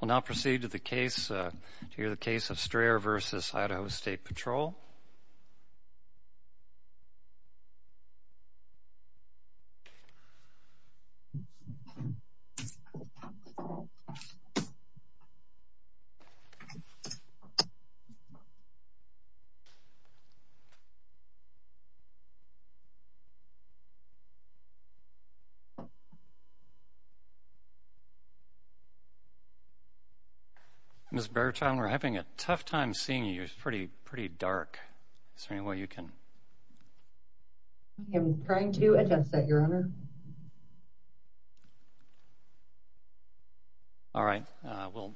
We'll now proceed to the case of Strayer v. Idaho State Patrol. Ms. Bertram, we're having a tough time seeing you. It's pretty dark. Is there any way you can... I'm trying to address that, Your Honor. All right. We'll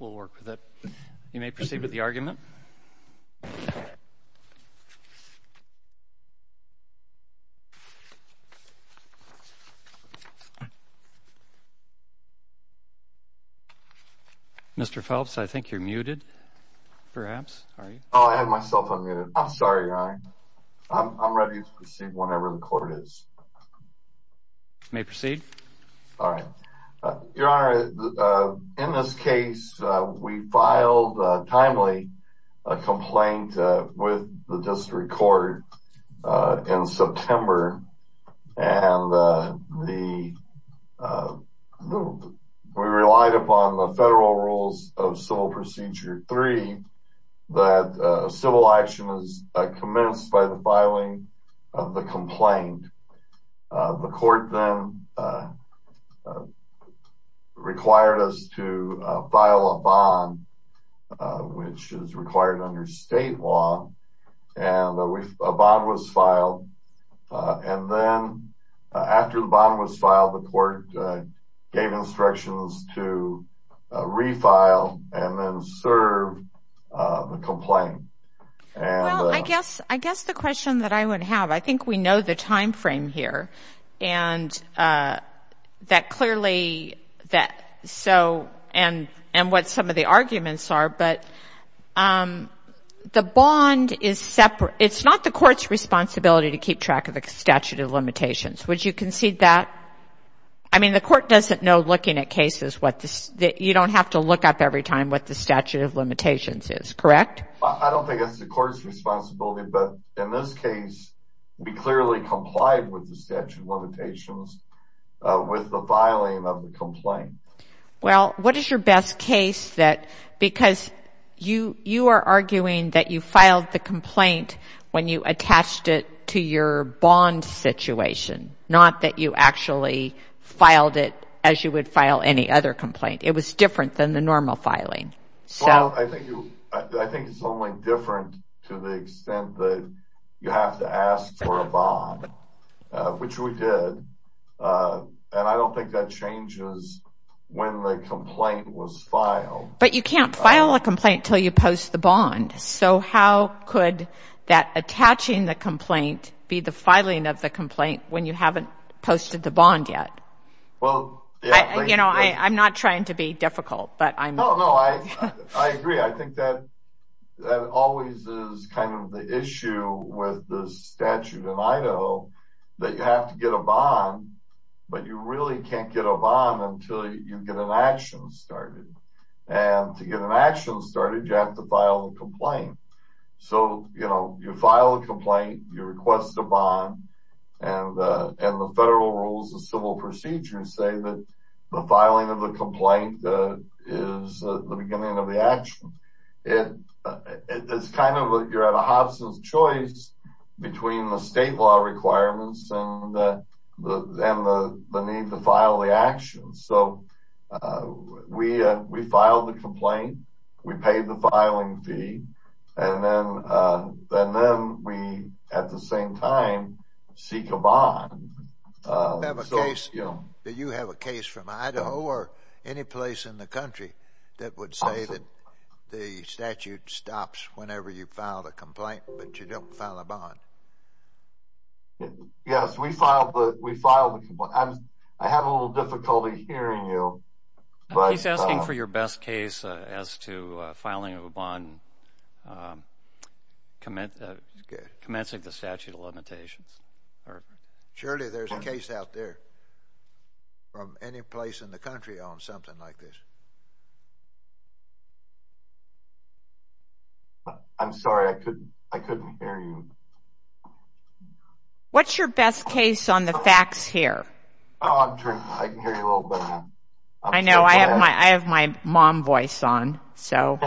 work with it. You may proceed with the argument. Mr. Phelps, I think you're muted, perhaps. Oh, I have myself unmuted. I'm sorry, Your Honor. I'm ready to proceed whenever the court is. You may proceed. Your Honor, in this case, we filed a timely complaint with the district court in September. We relied upon the federal rules of Civil Procedure 3 that civil action is commenced by the filing of the complaint. The court then required us to file a bond, which is required under state law, and a bond was filed. And then after the bond was filed, the court gave instructions to refile and then serve the complaint. Well, I guess the question that I would have, I think we know the time frame here and that clearly that so and what some of the arguments are, but the bond is separate. It's not the court's responsibility to keep track of the statute of limitations. Would you concede that? I mean, the court doesn't know, looking at cases, that you don't have to look up every time what the statute of limitations is, correct? I don't think it's the court's responsibility, but in this case, we clearly complied with the statute of limitations with the filing of the complaint. Well, what is your best case that, because you are arguing that you filed the complaint when you attached it to your bond situation, not that you actually filed it as you would file any other complaint? It was different than the normal filing. Well, I think it's only different to the extent that you have to ask for a bond, which we did, and I don't think that changes when the complaint was filed. But you can't file a complaint until you post the bond. So how could that attaching the complaint be the filing of the complaint when you haven't posted the bond yet? Well, you know, I'm not trying to be difficult, but I'm... No, no, I agree. I think that always is kind of the issue with the statute in Idaho that you have to get a bond, but you really can't get a bond until you get an action started. And to get an action started, you have to file a complaint. So, you know, you file a complaint, you request a bond, and the federal rules of civil procedure say that the filing of the complaint is the beginning of the action. It's kind of like you're at a Hobson's Choice between the state law requirements and the need to file the action. So we file the complaint, we pay the filing fee, and then we, at the same time, seek a bond. Do you have a case from Idaho or any place in the country that would say that the statute stops whenever you file a complaint, but you don't file a bond? Yes, we file the complaint. I have a little difficulty hearing you. He's asking for your best case as to filing a bond, commencing the statute of limitations. Surely there's a case out there from any place in the country on something like this. I'm sorry, I couldn't hear you. What's your best case on the facts here? I can hear you a little better now. I know, I have my mom voice on, so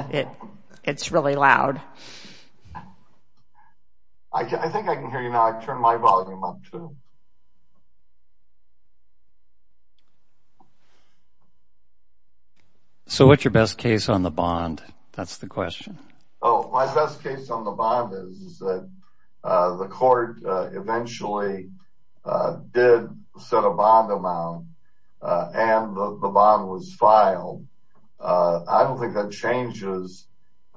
it's really loud. I think I can hear you now. I've turned my volume up, too. So what's your best case on the bond? That's the question. My best case on the bond is that the court eventually did set a bond amount and the bond was filed. I don't think that changes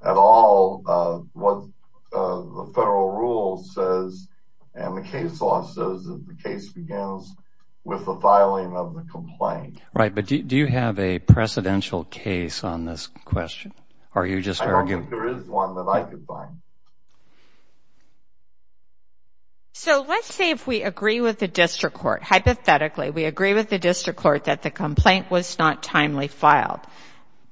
at all what the federal rule says and the case law says that the case begins with the filing of the complaint. Right, but do you have a precedential case on this question? I don't think there is one that I could find. So let's say if we agree with the district court, hypothetically, we agree with the district court that the complaint was not timely filed.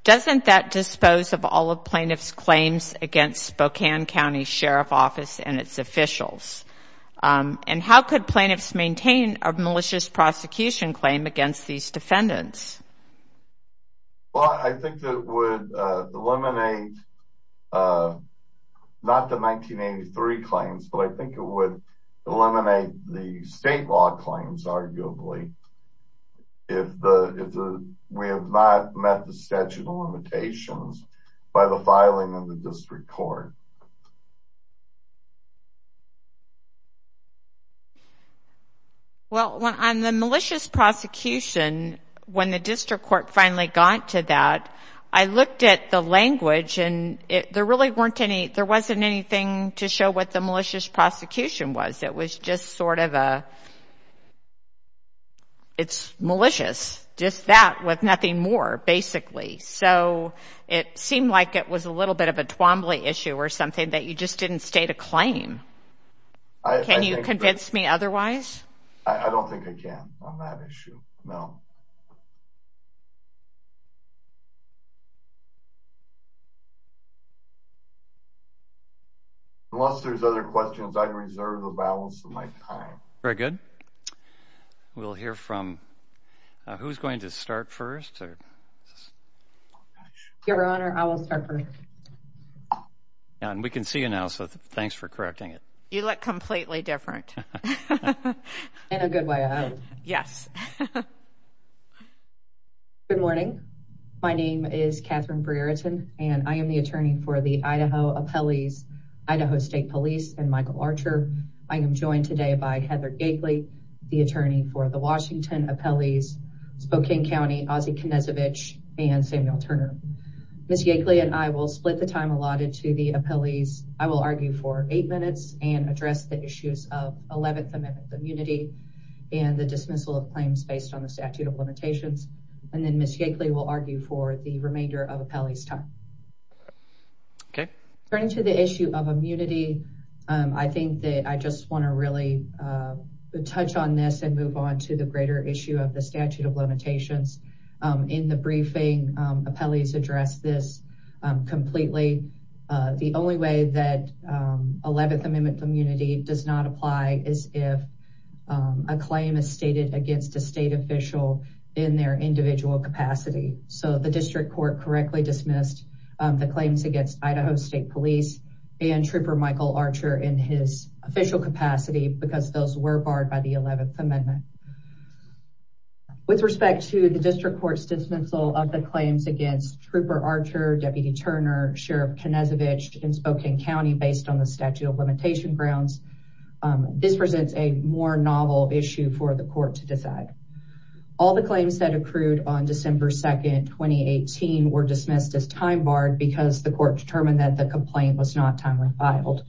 Doesn't that dispose of all of plaintiff's claims against Spokane County Sheriff's Office and its officials? And how could plaintiffs maintain a malicious prosecution claim against these defendants? Well, I think that it would eliminate, not the 1983 claims, but I think it would eliminate the state law claims, arguably, if we have not met the statute of limitations by the filing of the district court. Well, on the malicious prosecution, when the district court finally got to that, I looked at the language and there wasn't anything to show what the malicious prosecution was. It was just sort of a, it's malicious. Just that with nothing more, basically. So it seemed like it was a little bit of a Twombly issue or something. That you just didn't state a claim. Can you convince me otherwise? I don't think I can on that issue, no. Unless there's other questions, I reserve the balance of my time. Very good. We'll hear from, who's going to start first? Your Honor, I will start first. And we can see you now, so thanks for correcting it. You look completely different. In a good way, I hope. Yes. Good morning. My name is Catherine Breereton, and I am the attorney for the Idaho Appellees, Idaho State Police, and Michael Archer. I am joined today by Heather Yakeley, the attorney for the Washington Appellees, Spokane County, Ozzie Knezovich, and Samuel Turner. Ms. Yakeley and I will split the time allotted to the appellees. I will argue for eight minutes and address the issues of 11th Amendment immunity and the dismissal of claims based on the statute of limitations. And then Ms. Yakeley will argue for the remainder of the appellee's time. Okay. Turning to the issue of immunity, I think that I just want to really touch on this and move on to the greater issue of the statute of limitations. In the briefing, appellees addressed this completely. The only way that 11th Amendment immunity does not apply is if a claim is stated against a state official in their individual capacity. So the district court correctly dismissed the claims against Idaho State Police and Trooper Michael Archer in his official capacity because those were barred by the 11th Amendment. With respect to the district court's dismissal of the claims against Trooper Archer, Deputy Turner, Sheriff Knezovich in Spokane County based on the statute of limitation grounds, this presents a more novel issue for the court to decide. All the claims that accrued on December 2, 2018 were dismissed as time barred because the court determined that the complaint was not timely filed.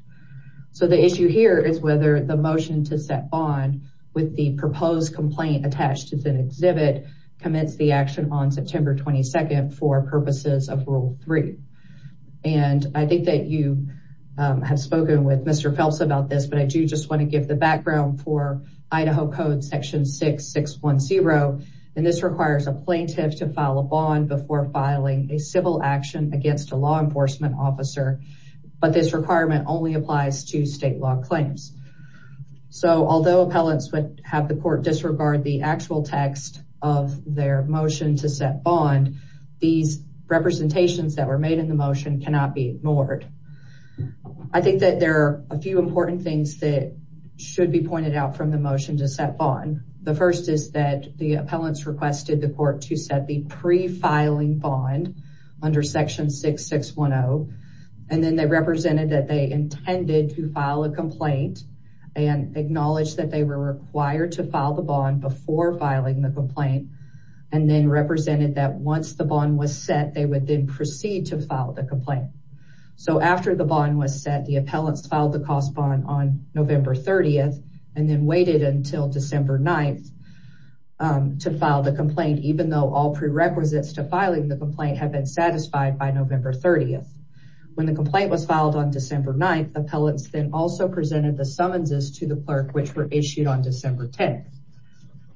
So the issue here is whether the motion to set bond with the proposed complaint attached as an exhibit commits the action on September 22 for purposes of Rule 3. And I think that you have spoken with Mr. Phelps about this, but I do just want to give the background for Idaho Code Section 6610. And this requires a plaintiff to file a bond before filing a civil action against a law enforcement officer. But this requirement only applies to state law claims. So although appellants would have the court disregard the actual text of their motion to set bond, these representations that were made in the motion cannot be ignored. I think that there are a few important things that should be pointed out from the motion to set bond. The first is that the appellants requested the court to set the pre-filing bond under Section 6610. And then they represented that they intended to file a complaint and acknowledged that they were required to file the bond before filing the complaint and then represented that once the bond was set, they would then proceed to file the complaint. So after the bond was set, the appellants filed the cost bond on November 30 and then waited until December 9 to file the complaint, and even though all prerequisites to filing the complaint have been satisfied by November 30. When the complaint was filed on December 9, appellants then also presented the summonses to the clerk, which were issued on December 10.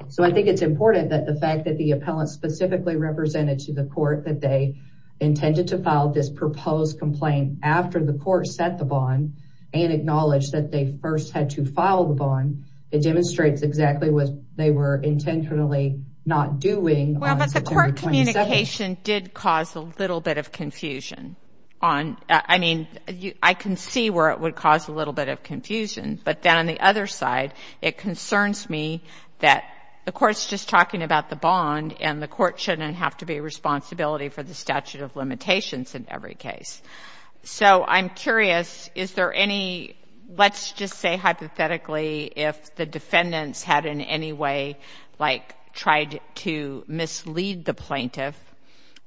So I think it's important that the fact that the appellants specifically represented to the court that they intended to file this proposed complaint after the court set the bond and acknowledged that they first had to file the bond, it demonstrates exactly what they were intentionally not doing on September 27. Well, but the court communication did cause a little bit of confusion. I mean, I can see where it would cause a little bit of confusion, but then on the other side, it concerns me that the court's just talking about the bond and the court shouldn't have to be a responsibility for the statute of limitations in every case. So I'm curious, is there any, let's just say hypothetically, if the defendants had in any way tried to mislead the plaintiff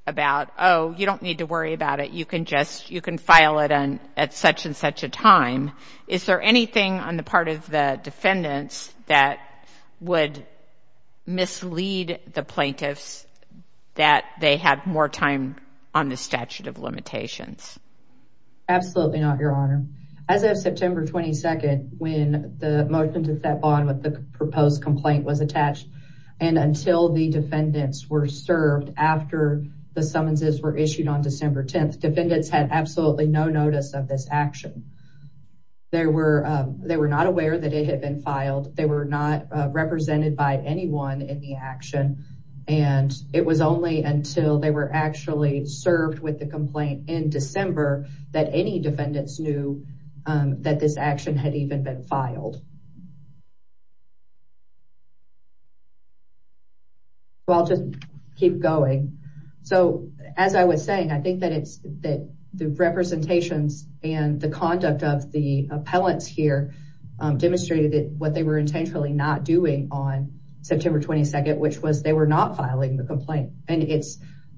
about, oh, you don't need to worry about it. You can file it at such and such a time. Is there anything on the part of the defendants that would mislead the plaintiffs that they had more time on the statute of limitations? Absolutely not, Your Honor. As of September 22nd, when the motion to set bond with the proposed complaint was attached and until the defendants were served after the summonses were issued on December 10th, defendants had absolutely no notice of this action. They were not aware that it had been filed. They were not represented by anyone in the action. And it was only until they were actually served with the complaint in December that any defendants knew that this action had even been filed. Well, I'll just keep going. So as I was saying, I think that the representations and the conduct of the appellants here demonstrated what they were intentionally not doing on September 22nd, which was they were not filing the complaint. And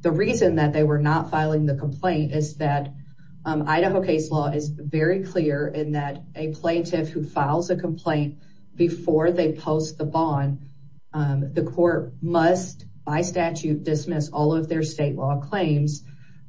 the reason that they were not filing the complaint is that Idaho case law is very clear in that a plaintiff who files a complaint before they post the bond, the court must by statute dismiss all of their state law claims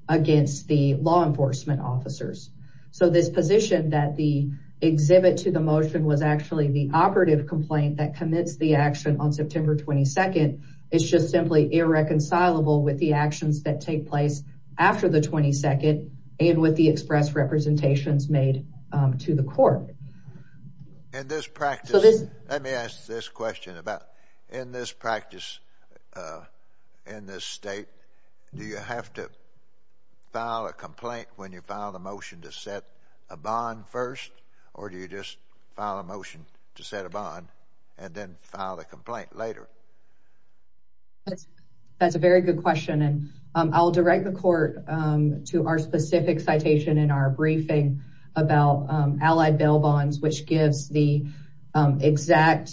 against the law enforcement officers. So this position that the exhibit to the motion was actually the operative complaint that commits the action on September 22nd is just simply irreconcilable with the actions that take place after the 22nd and with the express representations made to the court. In this practice, let me ask this question about in this practice, in this state, do you have to file a complaint when you file the motion to set a bond first? And then file a complaint later? That's a very good question. And I'll direct the court to our specific citation in our briefing about allied bail bonds, which gives the exact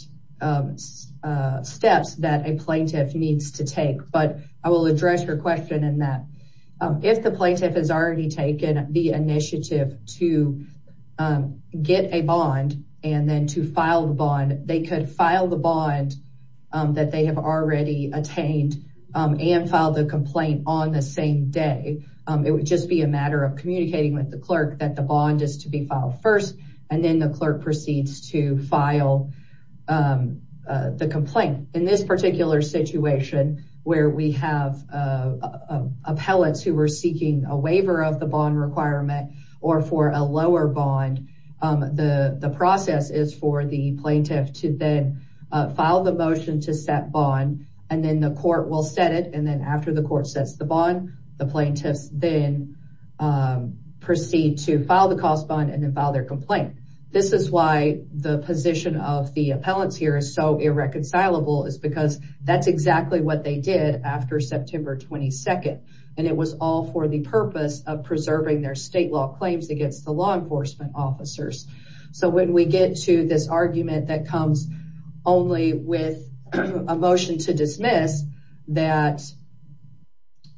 steps that a plaintiff needs to take. But I will address your question in that. And then to file the bond, they could file the bond that they have already attained and file the complaint on the same day. It would just be a matter of communicating with the clerk that the bond is to be filed first, and then the clerk proceeds to file the complaint. In this particular situation where we have appellates who were seeking a waiver of the bond requirement or for a lower bond, the process is for the plaintiff to then file the motion to set bond, and then the court will set it. And then after the court sets the bond, the plaintiffs then proceed to file the cost bond and then file their complaint. This is why the position of the appellants here is so irreconcilable is because that's exactly what they did after September 22nd. And it was all for the purpose of preserving their state law claims against the law enforcement officers. So when we get to this argument that comes only with a motion to dismiss that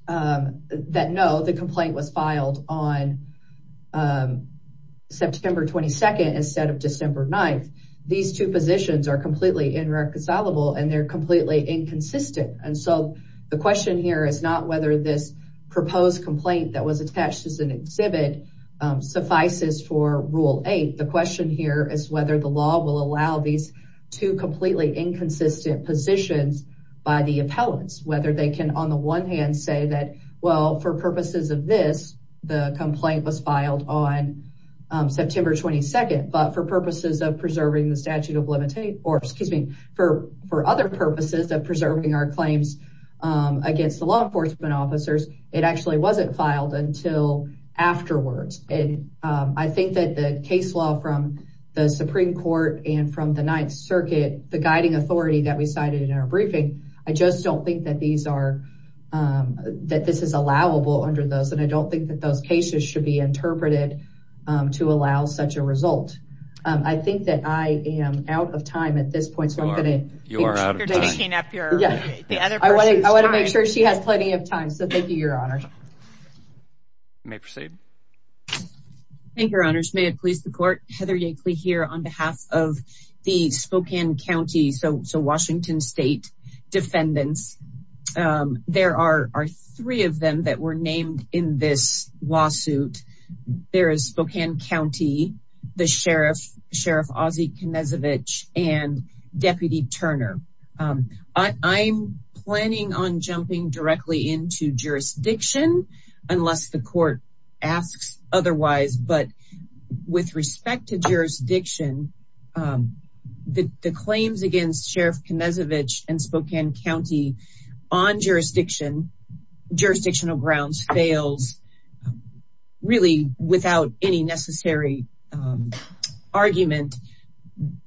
no, the complaint was filed on September 22nd instead of December 9th, these two positions are completely irreconcilable, and they're completely inconsistent. And so the question here is not whether this proposed complaint that was attached as an exhibit suffices for Rule 8. The question here is whether the law will allow these two completely inconsistent positions by the appellants, whether they can on the one hand say that, well, for purposes of this, the complaint was filed on September 22nd, but for purposes of preserving the statute of limitations, or excuse me, for other purposes of preserving our claims against the law enforcement officers, it actually wasn't filed until afterwards. And I think that the case law from the Supreme Court and from the Ninth Circuit, the guiding authority that we cited in our briefing, I just don't think that this is allowable under those, and I don't think that those cases should be interpreted to allow such a result. I think that I am out of time at this point. So I'm going to... You are out of time. I want to make sure she has plenty of time. So thank you, Your Honor. You may proceed. Thank you, Your Honors. May it please the Court, Heather Yankley here on behalf of the Spokane County, so Washington State defendants. There are three of them that were named in this lawsuit. There is Spokane County, the Sheriff, Sheriff Ozzie Knezovich, and Deputy Turner. I'm planning on jumping directly into jurisdiction unless the Court asks otherwise, but with respect to jurisdiction, the claims against Sheriff Knezovich and Spokane County on jurisdictional grounds fails, really without any necessary argument.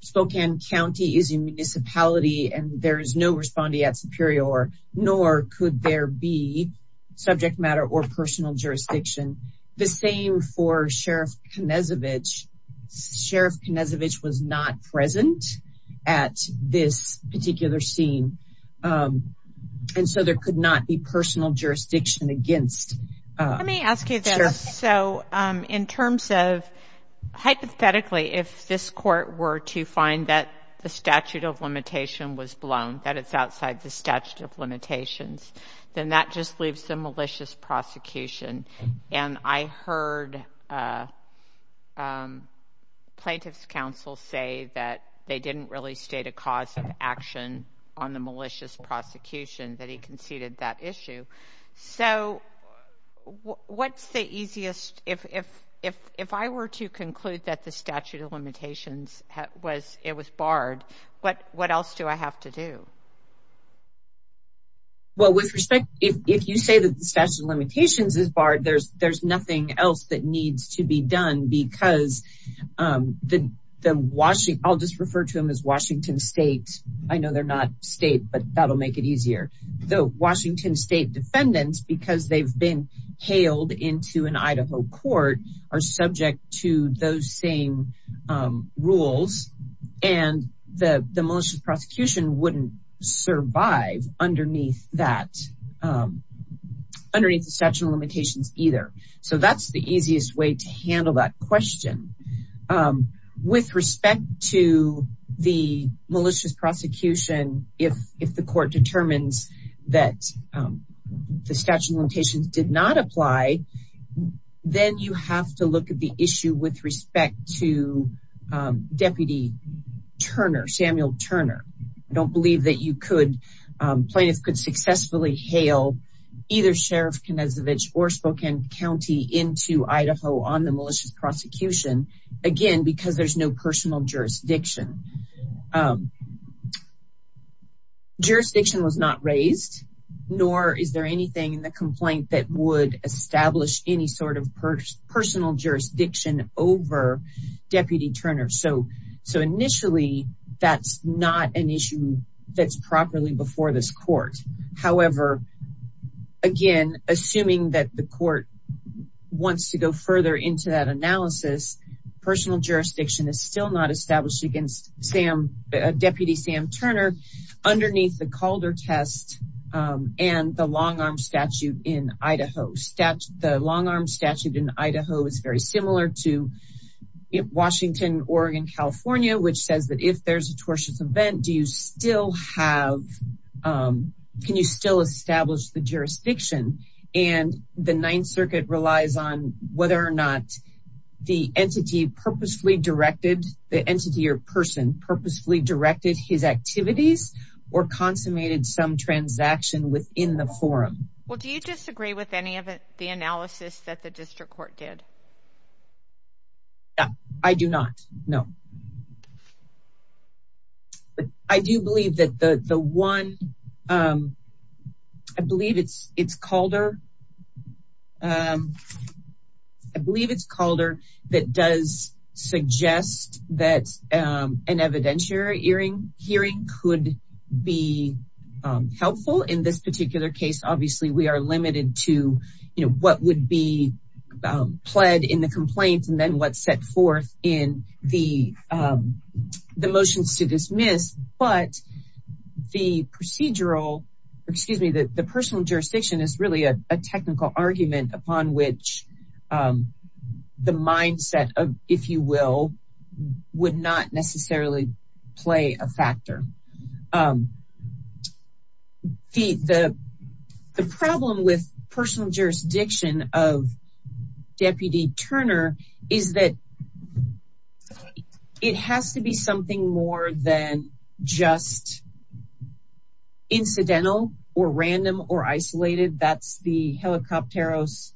Spokane County is a municipality, and there is no respondee at Superior, nor could there be subject matter or personal jurisdiction. The same for Sheriff Knezovich. Sheriff Knezovich was not present at this particular scene, and so there could not be personal jurisdiction against... Let me ask you this. So in terms of, hypothetically, if this Court were to find that the statute of limitation was blown, that it's outside the statute of limitations, then that just leaves the malicious prosecution, and I heard plaintiff's counsel say that they didn't really state a cause of action on the malicious prosecution, that he conceded that issue. So what's the easiest... If I were to conclude that the statute of limitations was barred, what else do I have to do? Well, with respect... If you say that the statute of limitations is barred, there's nothing else that needs to be done, because the Washington... I'll just refer to them as Washington State. I know they're not state, but that'll make it easier. The Washington State defendants, because they've been hailed into an Idaho court, are subject to those same rules, and the malicious prosecution wouldn't survive underneath the statute of limitations either. So that's the easiest way to handle that question. With respect to the malicious prosecution, if the court determines that the statute of limitations did not apply, then you have to look at the issue with respect to Deputy Turner, Samuel Turner. I don't believe that you could... Plaintiff could successfully hail either Sheriff Knezovich or Spokane County into Idaho on the malicious prosecution, again, because there's no personal jurisdiction. Jurisdiction was not raised, nor is there anything in the complaint that would establish any sort of personal jurisdiction over Deputy Turner. So initially, that's not an issue that's properly before this court. However, again, assuming that the court wants to go further into that analysis, personal jurisdiction is still not established against Deputy Sam Turner underneath the Calder test and the long arm statute in Idaho. The long arm statute in Idaho is very similar to Washington, Oregon, California, which says that if there's a tortious event, do you still have... Can you still establish the jurisdiction? And the Ninth Circuit relies on whether or not the entity purposefully directed, the entity or person purposefully directed his activities or consummated some transaction within the forum. Well, do you disagree with any of the analysis that the district court did? No, I do not, no. I do believe that the one... I believe it's Calder. I believe it's Calder that does suggest that an evidentiary hearing could be helpful. In this particular case, obviously we are limited to what would be pled in the complaint and then what's set forth in the motions to dismiss. But the procedural, excuse me, the personal jurisdiction is really a technical argument upon which the mindset of, if you will, would not necessarily play a factor. The problem with personal jurisdiction of Deputy Turner is that it has to be something more than just incidental or random or isolated. That's the Helicopteros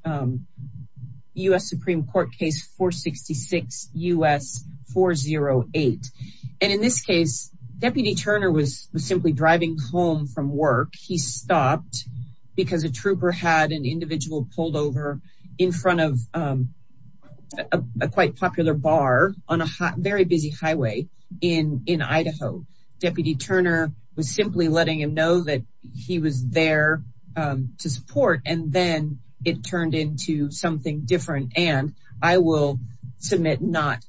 US Supreme Court case 466 US 408. And in this case, Deputy Turner was simply driving home from work. He stopped because a trooper had an individual pulled over in front of a quite popular bar on a very busy highway in Idaho. Deputy Turner was simply letting him know that he was there to support. And then it turned into something different. And I will submit not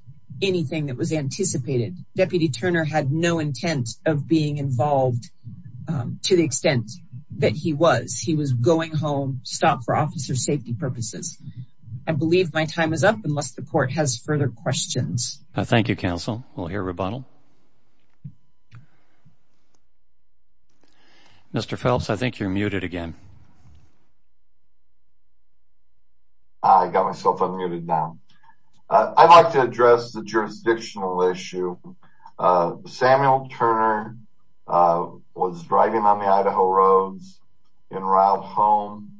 anything that was anticipated. Deputy Turner had no intent of being involved to the extent that he was. He was going home, stopped for officer safety purposes. I believe my time is up unless the court has further questions. Thank you, counsel. We'll hear rebuttal. Mr. Phelps, I think you're muted again. I got myself unmuted now. I'd like to address the jurisdictional issue. Samuel Turner was driving on the Idaho roads in route home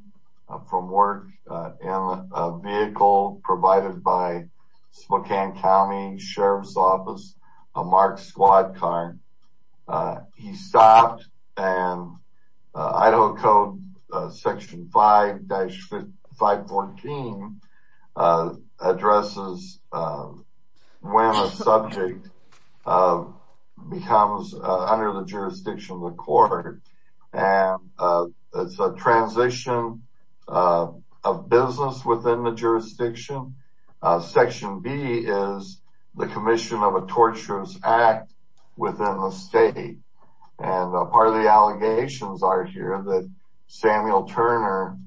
from work in a vehicle provided by Spokane County Sheriff's Office, a marked squad car. He stopped and Idaho Code Section 5-514 addresses when a subject becomes under the jurisdiction of the court. It's a transition of business within the jurisdiction. Section B is the commission of a torturous act within the state. And part of the allegations are here that Samuel Turner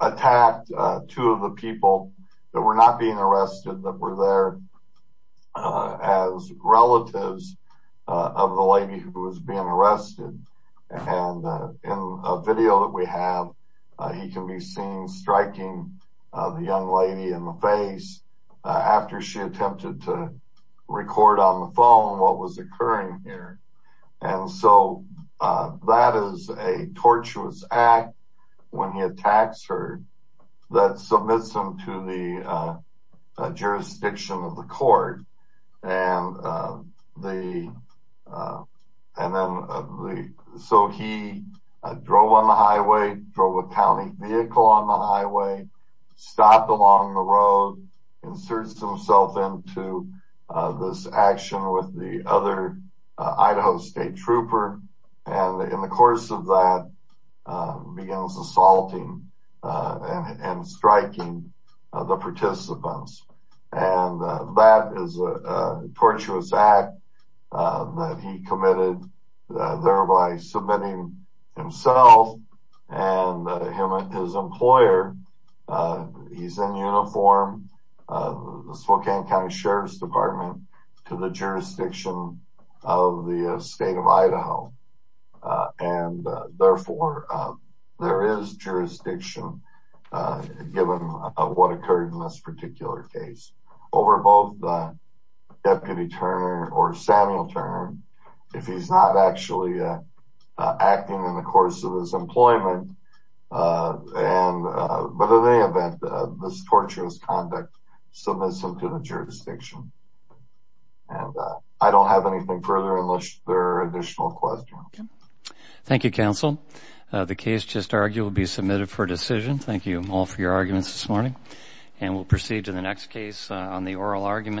attacked two of the people that were not being arrested that were there as relatives of the lady who was being arrested. And in a video that we have, he can be seen striking the young lady in the face after she attempted to record on the phone what was occurring here. And so that is a tortuous act when he attacks her that submits them to the jurisdiction of the court. And so he drove on the highway, drove a county vehicle on the highway, stopped along the road, inserts himself into this action with the other Idaho State Trooper, and in the course of that, begins assaulting and striking the participants. And that is a tortuous act that he committed, thereby submitting himself and his employer, he's in uniform, the Spokane County Sheriff's Department, to the jurisdiction of the state of Idaho. And therefore, there is jurisdiction given what occurred in this particular case. Over both Deputy Turner or Samuel Turner, if he's not actually acting in the course of his employment, but in any event, this tortuous conduct submits him to the jurisdiction. And I don't have anything further unless there are additional questions. Thank you, Counsel. The case just argued will be submitted for decision. Thank you all for your arguments this morning. And we'll proceed to the next case on the oral argument.